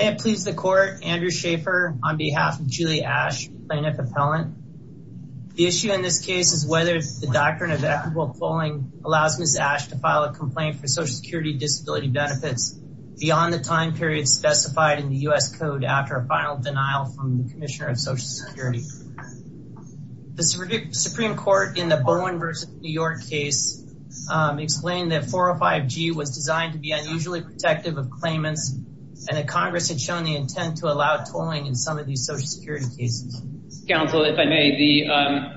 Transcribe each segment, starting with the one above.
It pleads the court Andrew Schaefer on behalf of Julie Ashe plaintiff appellant The issue in this case is whether the doctrine of equitable polling allows Ms. Ashe to file a complaint for Social Security disability benefits Beyond the time period specified in the US Code after a final denial from the Commissioner of Social Security The Supreme Court in the Bowen v. New York case Explained that 405g was designed to be unusually protective of claimants And that Congress had shown the intent to allow tolling in some of these Social Security cases Counsel if I may the um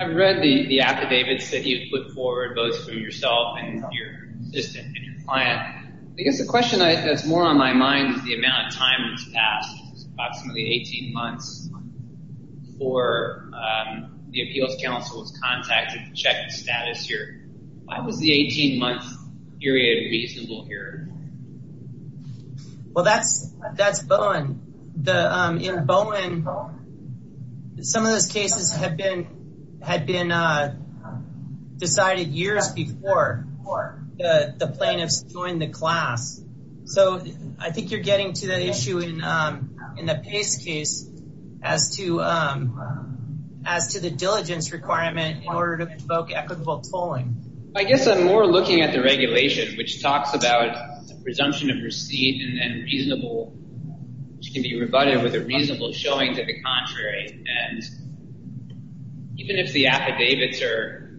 I've read the the affidavits that you've put forward both from yourself and your assistant and your client I guess the question that's more on my mind is the amount of time that's passed approximately 18 months before The appeals council was contacted to check the status here. Why was the 18 month period reasonable here? Well, that's that's Bowen the um in Bowen Some of those cases have been had been uh decided years before The the plaintiffs joined the class So I think you're getting to the issue in um in the Pace case as to um As to the diligence requirement in order to provoke equitable tolling I guess i'm more looking at the regulation which talks about the presumption of receipt and reasonable which can be rebutted with a reasonable showing to the contrary and Even if the affidavits are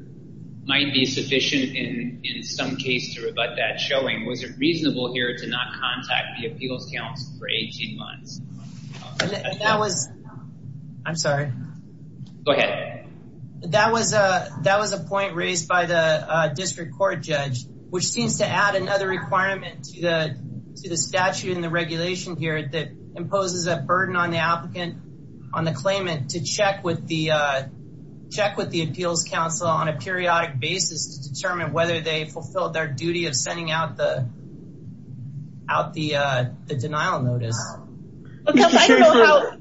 Might be sufficient in in some case to rebut that showing was it reasonable here to not contact the appeals council for 18 months That was I'm, sorry Okay that was a that was a point raised by the uh district court judge which seems to add another requirement to the To the statute and the regulation here that imposes a burden on the applicant on the claimant to check with the uh check with the appeals council on a periodic basis to determine whether they fulfilled their duty of sending out the Out the uh the denial notice Because I don't know how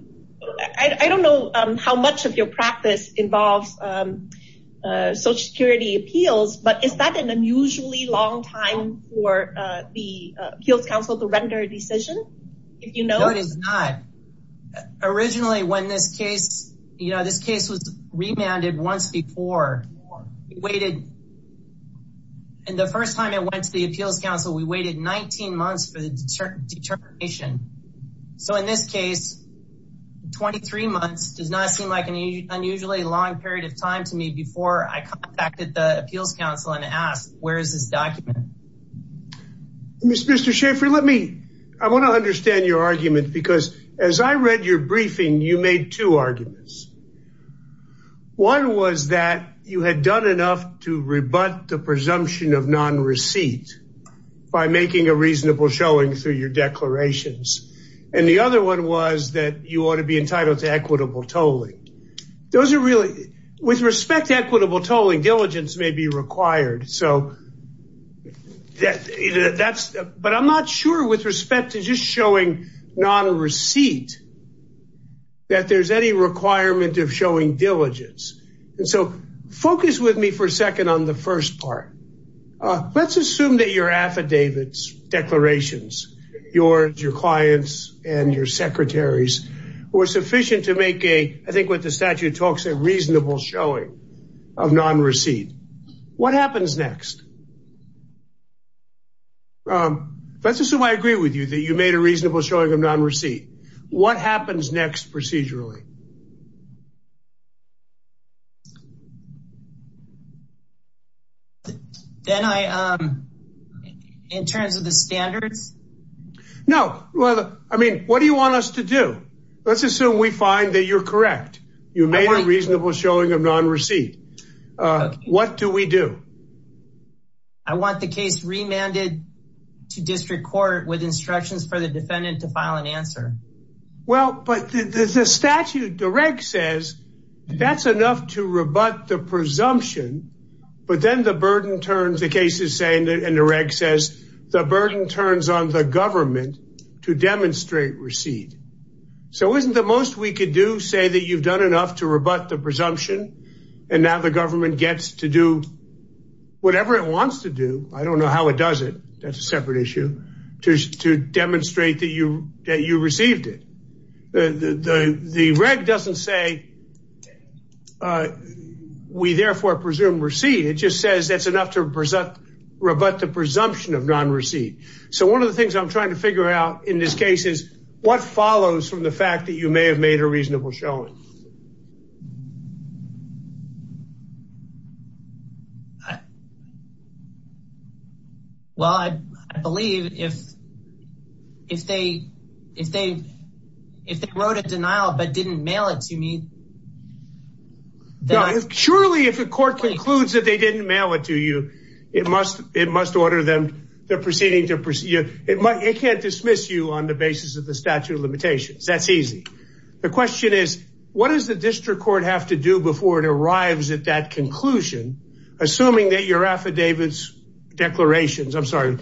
I don't know um how much of your practice involves um Social security appeals, but is that an unusually long time for uh, the appeals council to render a decision? If you know it is not Originally when this case, you know, this case was remanded once before waited And the first time it went to the appeals council we waited 19 months for the determination So in this case 23 months does not seem like an Unusually long period of time to me before I contacted the appeals council and asked where is this document? Mr. Schaffer, let me I want to understand your argument because as I read your briefing you made two arguments One was that you had done enough to rebut the presumption of non-receipt By making a reasonable showing through your declarations And the other one was that you ought to be entitled to equitable tolling Those are really with respect to equitable tolling diligence may be required. So That that's but i'm not sure with respect to just showing not a receipt That there's any requirement of showing diligence and so focus with me for a second on the first part Uh, let's assume that your affidavits Declarations yours your clients and your secretaries Were sufficient to make a I think what the statute talks a reasonable showing of non-receipt What happens next? Um, let's assume I agree with you that you made a reasonable showing of non-receipt what happens next procedurally Then I um In terms of the standards No, well, I mean, what do you want us to do? Let's assume we find that you're correct. You made a reasonable showing of non-receipt Uh, what do we do? I want the case remanded To district court with instructions for the defendant to file an answer well, but the statute direct says That's enough to rebut the presumption But then the burden turns the case is saying that and the reg says the burden turns on the government to demonstrate receipt So isn't the most we could do say that you've done enough to rebut the presumption? And now the government gets to do Whatever it wants to do. I don't know how it does it. That's a separate issue To to demonstrate that you that you received it the the the reg doesn't say Uh Non-receipt it just says that's enough to present Rebut the presumption of non-receipt. So one of the things i'm trying to figure out in this case is What follows from the fact that you may have made a reasonable showing? Well, I believe if if they if they if they wrote a denial but didn't mail it to me That Surely if the court concludes that they didn't mail it to you It must it must order them. They're proceeding to proceed It might it can't dismiss you on the basis of the statute of limitations. That's easy The question is what does the district court have to do before it arrives at that conclusion? Assuming that your affidavits Declarations. I'm, sorry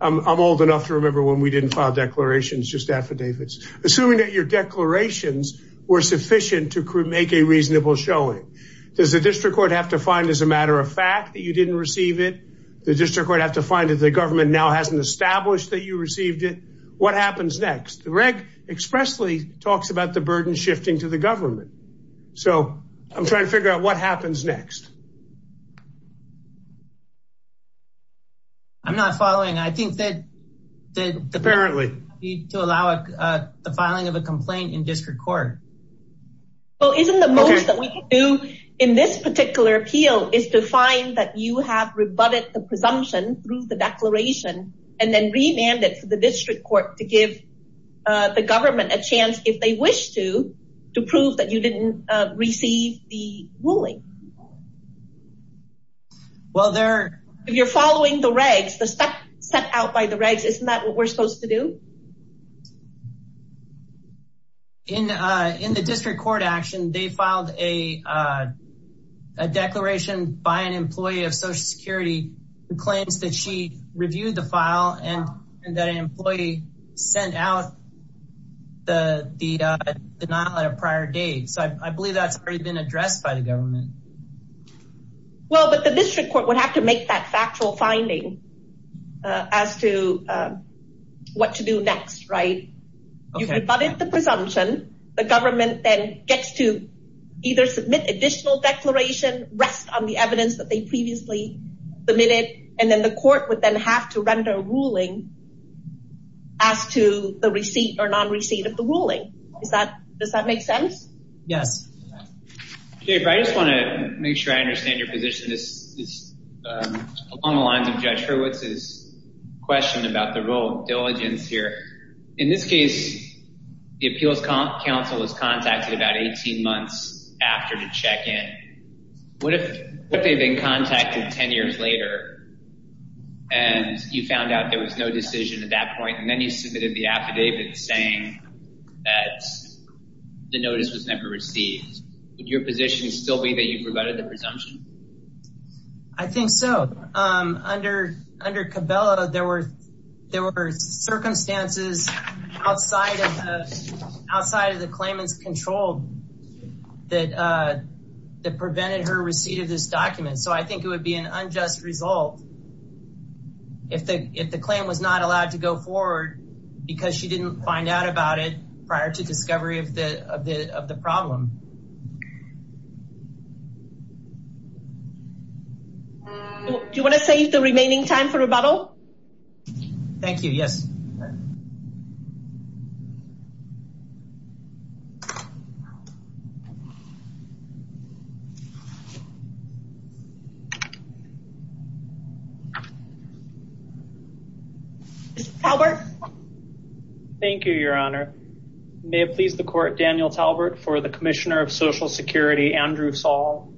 I'm old enough to remember when we didn't file declarations just affidavits assuming that your declarations Were sufficient to make a reasonable showing Does the district court have to find as a matter of fact that you didn't receive it? The district court have to find that the government now hasn't established that you received it What happens next the reg expressly talks about the burden shifting to the government? So i'm trying to figure out what happens next I'm not following. I think that Apparently to allow the filing of a complaint in district court Well, isn't the most that we can do in this particular appeal is to find that you have rebutted the presumption through the declaration And then remanded for the district court to give The government a chance if they wish to to prove that you didn't receive the ruling Well, they're if you're following the regs the stuff set out by the regs, isn't that what we're supposed to do? In uh in the district court action they filed a uh A declaration by an employee of social security Who claims that she reviewed the file and and that an employee sent out The the uh denial at a prior date. So I believe that's already been addressed by the government Well, but the district court would have to make that factual finding as to What to do next right? You've rebutted the presumption the government then gets to Either submit additional declaration rest on the evidence that they previously Submitted and then the court would then have to render a ruling As to the receipt or non-receipt of the ruling is that does that make sense? Yes Okay, but I just want to make sure I understand your position this is along the lines of Judge Hurwitz's Question about the role of diligence here in this case The appeals council was contacted about 18 months after the check-in What if what they've been contacted 10 years later? And you found out there was no decision at that point and then you submitted the affidavit saying that The notice was never received would your position still be that you've rebutted the presumption I think so, um under under cabela there were there were circumstances outside of outside of the claimants control that uh That prevented her receipt of this document. So I think it would be an unjust result If the if the claim was not allowed to go forward Because she didn't find out about it prior to discovery of the of the of the problem Do you want to save the remaining time for rebuttal? Thank you. Yes Mr. Talbert Thank you, your honor may it please the court Daniel Talbert for the commissioner of social security Andrew Saul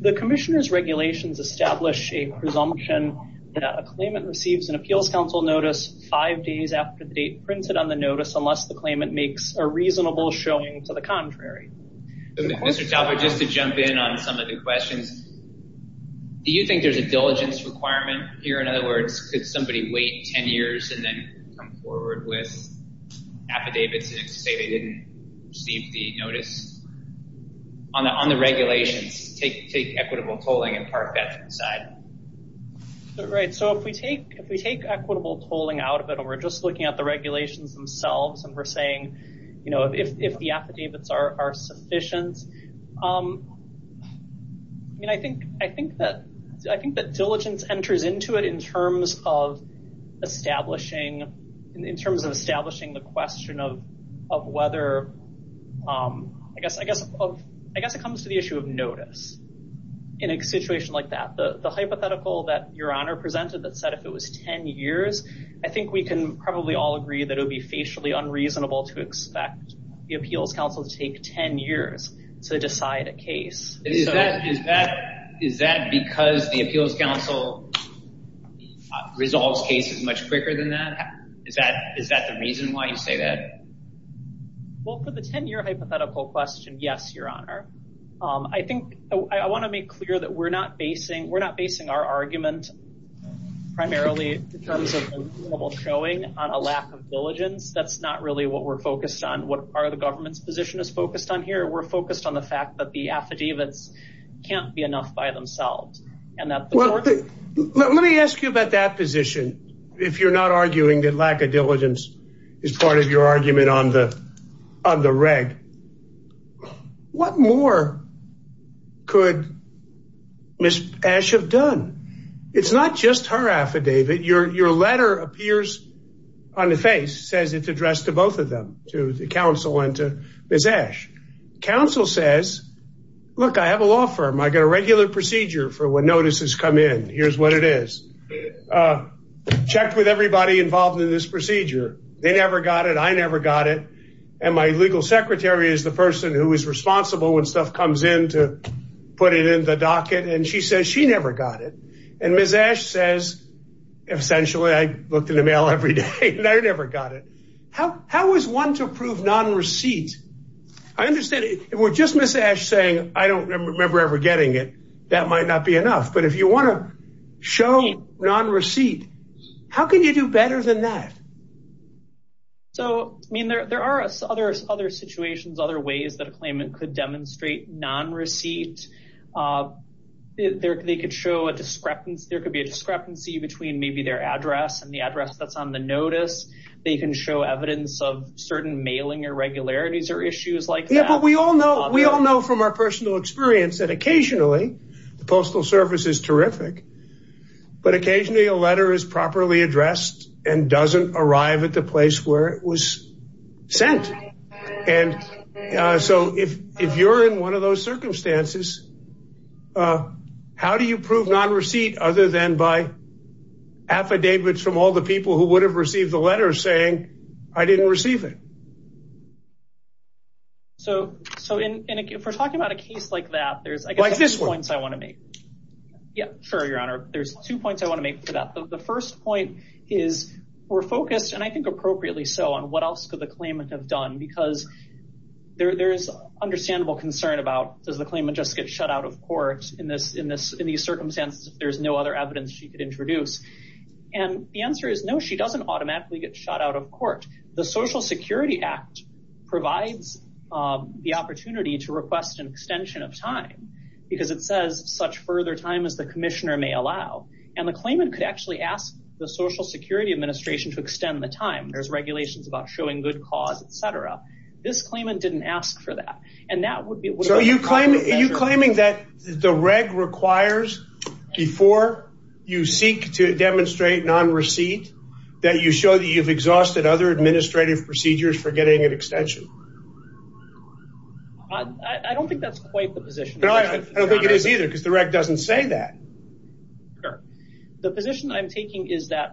The commissioner's regulations establish a presumption That a claimant receives an appeals council notice five days after the date printed on the notice unless the claimant makes a reasonable showing to the contrary Mr. Talbert just to jump in on some of the questions Do you think there's a diligence requirement here? In other words, could somebody wait 10 years and then come forward with? Affidavits and say they didn't receive the notice On the on the regulations take take equitable tolling and park that to the side Right, so if we take if we take equitable tolling out of it We're just looking at the regulations themselves and we're saying, you know, if if the affidavits are are sufficient um I mean, I think I think that I think that diligence enters into it in terms of establishing in terms of establishing the question of of whether Um, I guess I guess of I guess it comes to the issue of notice In a situation like that the the hypothetical that your honor presented that said if it was 10 years I think we can probably all agree that it would be facially unreasonable to expect the appeals council to take 10 years To decide a case. Is that is that is that because the appeals council? Resolves cases much quicker than that. Is that is that the reason why you say that? Well for the 10-year hypothetical question, yes, your honor Um, I think I want to make clear that we're not basing we're not basing our argument primarily in terms of Showing on a lack of diligence. That's not really what we're focused on. What part of the government's position is focused on here We're focused on the fact that the affidavits Can't be enough by themselves and that well Let me ask you about that position If you're not arguing that lack of diligence is part of your argument on the on the reg What more Could Miss ash have done It's not just her affidavit your your letter appears On the face says it's addressed to both of them to the council and to miss ash council says Look, I have a law firm. I got a regular procedure for when notices come in. Here's what it is uh I never got it and my legal secretary is the person who is responsible when stuff comes in to Put it in the docket and she says she never got it and miss ash says Essentially, I looked in the mail every day and I never got it. How how is one to approve non-receipt? I understand it. We're just miss ash saying I don't remember ever getting it. That might not be enough. But if you want to Show non-receipt How can you do better than that? So, I mean there there are other other situations other ways that a claimant could demonstrate non-receipt They could show a discrepancy there could be a discrepancy between maybe their address and the address that's on the notice They can show evidence of certain mailing irregularities or issues like that But we all know we all know from our personal experience that occasionally the postal service is terrific But occasionally a letter is properly addressed and doesn't arrive at the place where it was sent and Uh, so if if you're in one of those circumstances uh, how do you prove non-receipt other than by Affidavits from all the people who would have received the letter saying I didn't receive it So so in if we're talking about a case like that there's like this points I want to make Yeah, sure your honor there's two points I want to make for that the first point is we're focused and I think appropriately so on what else could the claimant have done because there there's Understandable concern about does the claimant just get shut out of court in this in this in these circumstances There's no other evidence she could introduce And the answer is no, she doesn't automatically get shot out of court. The social security act provides Um the opportunity to request an extension of time Because it says such further time as the commissioner may allow And the claimant could actually ask the social security administration to extend the time there's regulations about showing good cause, etc This claimant didn't ask for that and that would be so you claim are you claiming that the reg requires? before You seek to demonstrate non-receipt That you show that you've exhausted other administrative procedures for getting an extension I I don't think that's quite the position. I don't think it is either because the reg doesn't say that Sure, the position i'm taking is that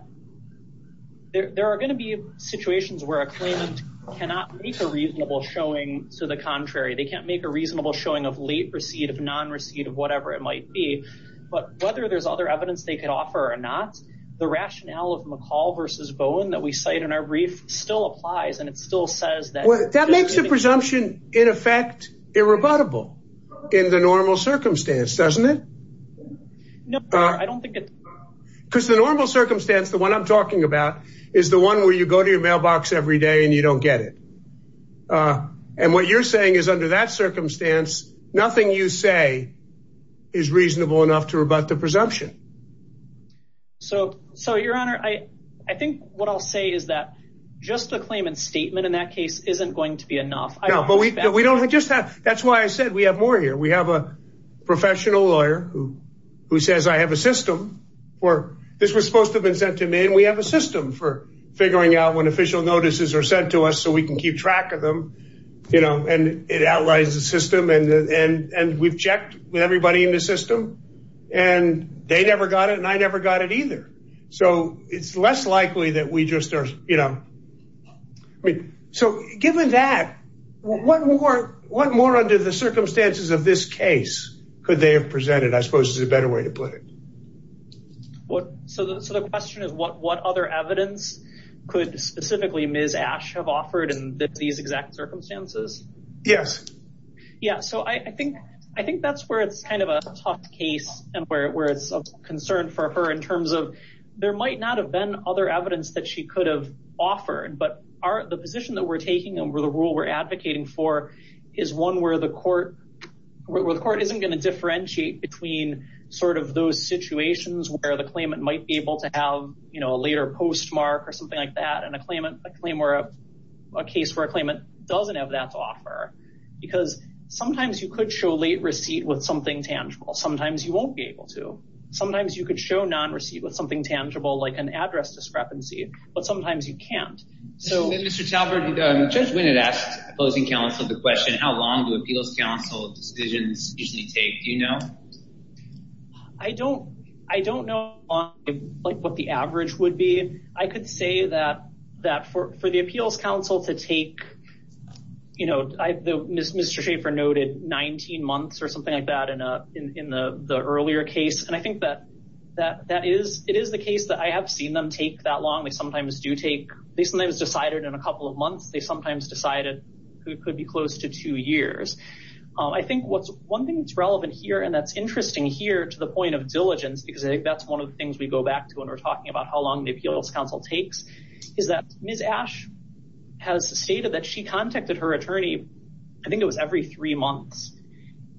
There are going to be situations where a claimant cannot make a reasonable showing to the contrary They can't make a reasonable showing of late receipt of non-receipt of whatever it might be But whether there's other evidence they could offer or not The rationale of mccall versus bowen that we cite in our brief still applies and it still says that well That makes the presumption in effect irrebuttable In the normal circumstance, doesn't it? No, I don't think it's Because the normal circumstance the one i'm talking about is the one where you go to your mailbox every day and you don't get it Uh, and what you're saying is under that circumstance Nothing you say Is reasonable enough to rebut the presumption So so your honor I I think what i'll say is that Just a claim and statement in that case isn't going to be enough. No, but we we don't just have that's why I said we have more here we have a professional lawyer who Who says I have a system? Or this was supposed to have been sent to me and we have a system for Figuring out when official notices are sent to us so we can keep track of them You know and it outlines the system and and and we've checked with everybody in the system And they never got it and I never got it either. So it's less likely that we just are you know I mean so given that What more what more under the circumstances of this case could they have presented I suppose is a better way to put it What so so the question is what what other evidence? Could specifically ms. Ash have offered in these exact circumstances Yes yeah, so I I think I think that's where it's kind of a tough case and where it's a concern for her in terms of There might not have been other evidence that she could have offered but our the position that we're taking over the rule we're advocating for Is one where the court? Where the court isn't going to differentiate between sort of those situations where the claimant might be able to have You know a later postmark or something like that and a claimant a claim where a case where a claimant doesn't have that to offer Because sometimes you could show late receipt with something tangible Sometimes you won't be able to sometimes you could show non-receipt with something tangible like an address discrepancy, but sometimes you can't So mr. Talbert judge winnett asked opposing counsel the question. How long do appeals council decisions usually take? Do you know? I don't I don't know Like what the average would be I could say that that for for the appeals council to take You know, I the mr Schaefer noted 19 months or something like that in a in in the the earlier case and I think that That that is it is the case that I have seen them take that long They sometimes do take they sometimes decided in a couple of months. They sometimes decided it could be close to two years I think what's one thing that's relevant here and that's interesting here to the point of diligence because I think that's one of the things We go back to when we're talking about how long the appeals council takes is that ms. Ash Has stated that she contacted her attorney. I think it was every three months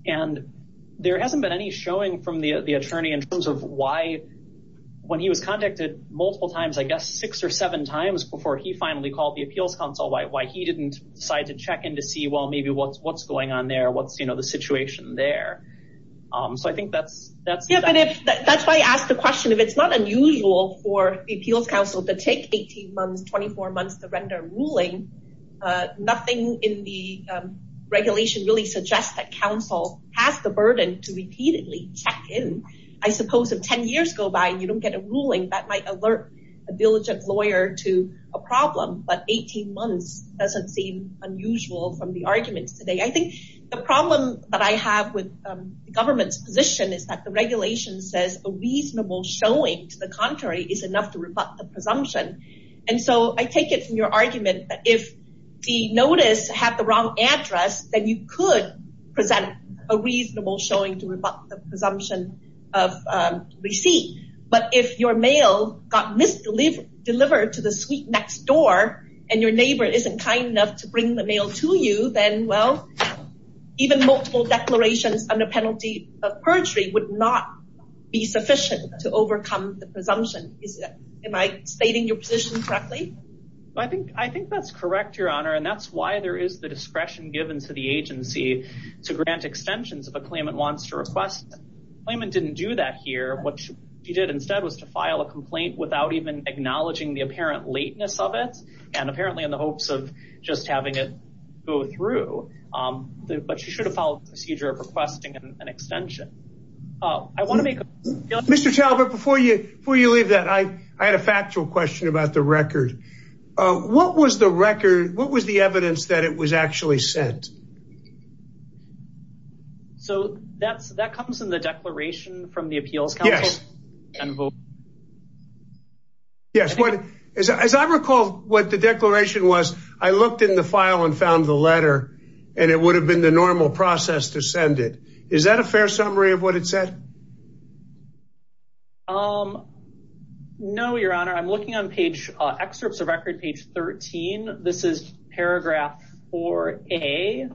and There hasn't been any showing from the the attorney in terms of why? When he was contacted multiple times, I guess six or seven times before he finally called the appeals council Why he didn't decide to check in to see well, maybe what's what's going on there? What's you know the situation there? um, so I think that's that's yeah, but if that's why I asked the question if it's not unusual for the appeals council to take 18 months 24 months to render ruling nothing in the Regulation really suggests that council has the burden to repeatedly check in I suppose if 10 years go by and you don't get a ruling that might alert a diligent lawyer to a problem But 18 months doesn't seem unusual from the arguments today I think the problem that I have with the government's position is that the regulation says a reasonable showing to the contrary Is enough to rebut the presumption? and so I take it from your argument that if The notice had the wrong address then you could present a reasonable showing to rebut the presumption of Receipt, but if your mail got missed Delivered to the suite next door and your neighbor isn't kind enough to bring the mail to you then well even multiple declarations under penalty of perjury would not Be sufficient to overcome the presumption. Is that am I stating your position correctly? I think I think that's correct your honor and that's why there is the discretion given to the agency to grant extensions if a claimant wants to request Claimant didn't do that here What you did instead was to file a complaint without even acknowledging the apparent lateness of it And apparently in the hopes of just having it go through Um, but you should have followed procedure of requesting an extension Oh, I want to make a point Mr. Talbot before you before you leave that I I had a factual question about the record Uh, what was the record? What was the evidence that it was actually sent? So that's that comes in the declaration from the appeals council yes and vote Yes, what as I recall what the declaration was I looked in the file and found the letter And it would have been the normal process to send it is that a fair summary of what it said Um No, your honor. I'm looking on page excerpts of record page 13. This is paragraph 4a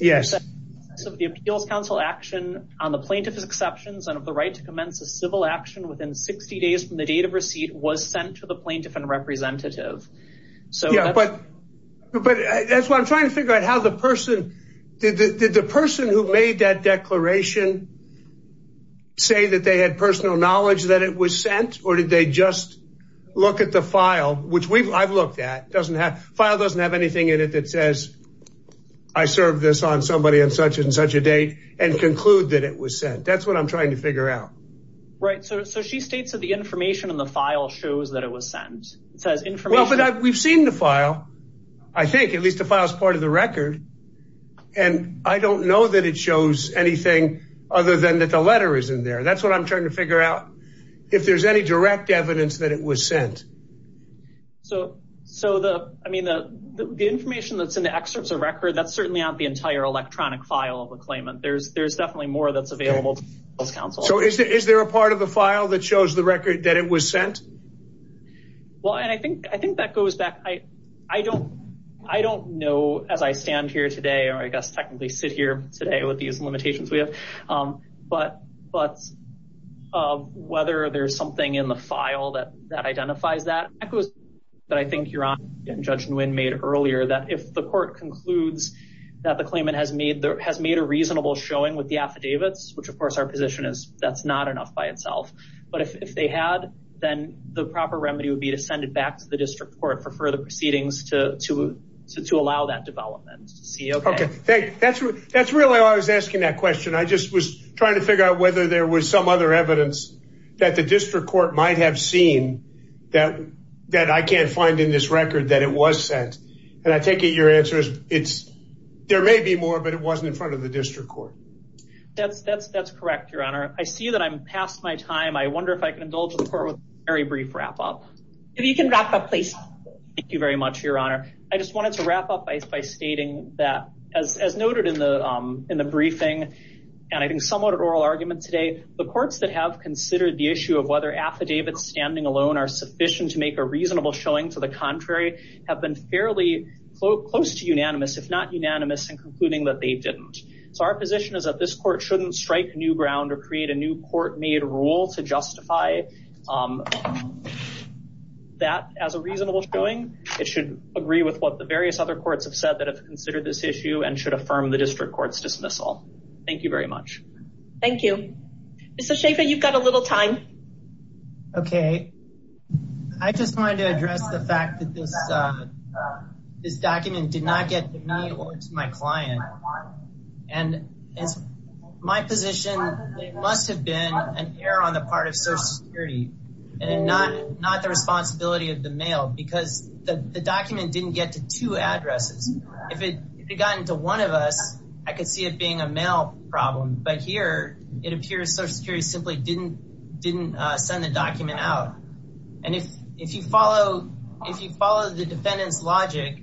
Yes of the appeals council action On the plaintiff's exceptions and of the right to commence a civil action within 60 days from the date of receipt was sent to the plaintiff and representative so yeah, but But that's what i'm trying to figure out how the person did the person who made that declaration Say that they had personal knowledge that it was sent or did they just Look at the file, which we've i've looked at doesn't have file doesn't have anything in it that says I served this on somebody on such and such a date and conclude that it was sent. That's what i'm trying to figure out Right, so so she states that the information in the file shows that it was sent it says information We've seen the file I think at least the file is part of the record And I don't know that it shows anything other than that. The letter is in there That's what i'm trying to figure out If there's any direct evidence that it was sent So so the I mean the the information that's in the excerpts of record That's certainly not the entire electronic file of a claimant. There's there's definitely more that's available So is there is there a part of the file that shows the record that it was sent? Well, and I think I think that goes back I I don't I don't know as I stand here today, or I guess technically sit here today with these limitations we have. Um, but but uh, whether there's something in the file that that identifies that echoes That I think you're on judge nguyen made earlier that if the court concludes That the claimant has made there has made a reasonable showing with the affidavits Which of course our position is that's not enough by itself But if they had then the proper remedy would be to send it back to the district court for further proceedings to to To to allow that development to see okay. Okay. That's that's really all I was asking that question I just was trying to figure out whether there was some other evidence That the district court might have seen that That I can't find in this record that it was sent and I take it your answer is it's There may be more but it wasn't in front of the district court That's that's that's correct your honor I see that i'm past my time I wonder if I can indulge the court with a very brief wrap up if you can wrap up, please Thank you very much your honor. I just wanted to wrap up by stating that as as noted in the um in the briefing And I think somewhat oral argument today the courts that have considered the issue of whether affidavits standing alone are sufficient to make a reasonable Showing to the contrary have been fairly close to unanimous if not unanimous and concluding that they didn't So our position is that this court shouldn't strike new ground or create a new court made rule to justify That as a reasonable showing it should agree with what the various other courts have said that have considered this issue And should affirm the district court's dismissal. Thank you very much Thank you Mr. Schaffer, you've got a little time Okay I just wanted to address the fact that this uh This document did not get to me or to my client and it's My position it must have been an error on the part of social security And not not the responsibility of the mail because the the document didn't get to two addresses If it if it got into one of us, I could see it being a mail problem But here it appears social security simply didn't didn't uh, send the document out If you follow the defendant's logic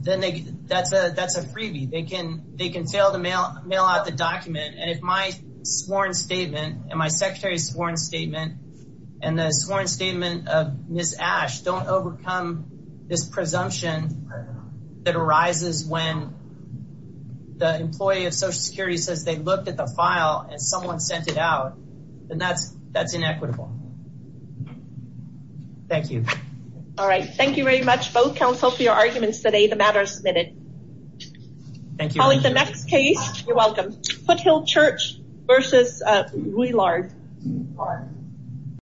Then they that's a that's a freebie they can they can fail to mail mail out the document and if my sworn statement and my secretary's sworn statement And the sworn statement of miss ash don't overcome this presumption that arises when The employee of social security says they looked at the file and someone sent it out and that's that's inequitable Thank you All right, thank you very much both counsel for your arguments today the matter is submitted Thank you calling the next case. You're welcome foothill church versus uh, we large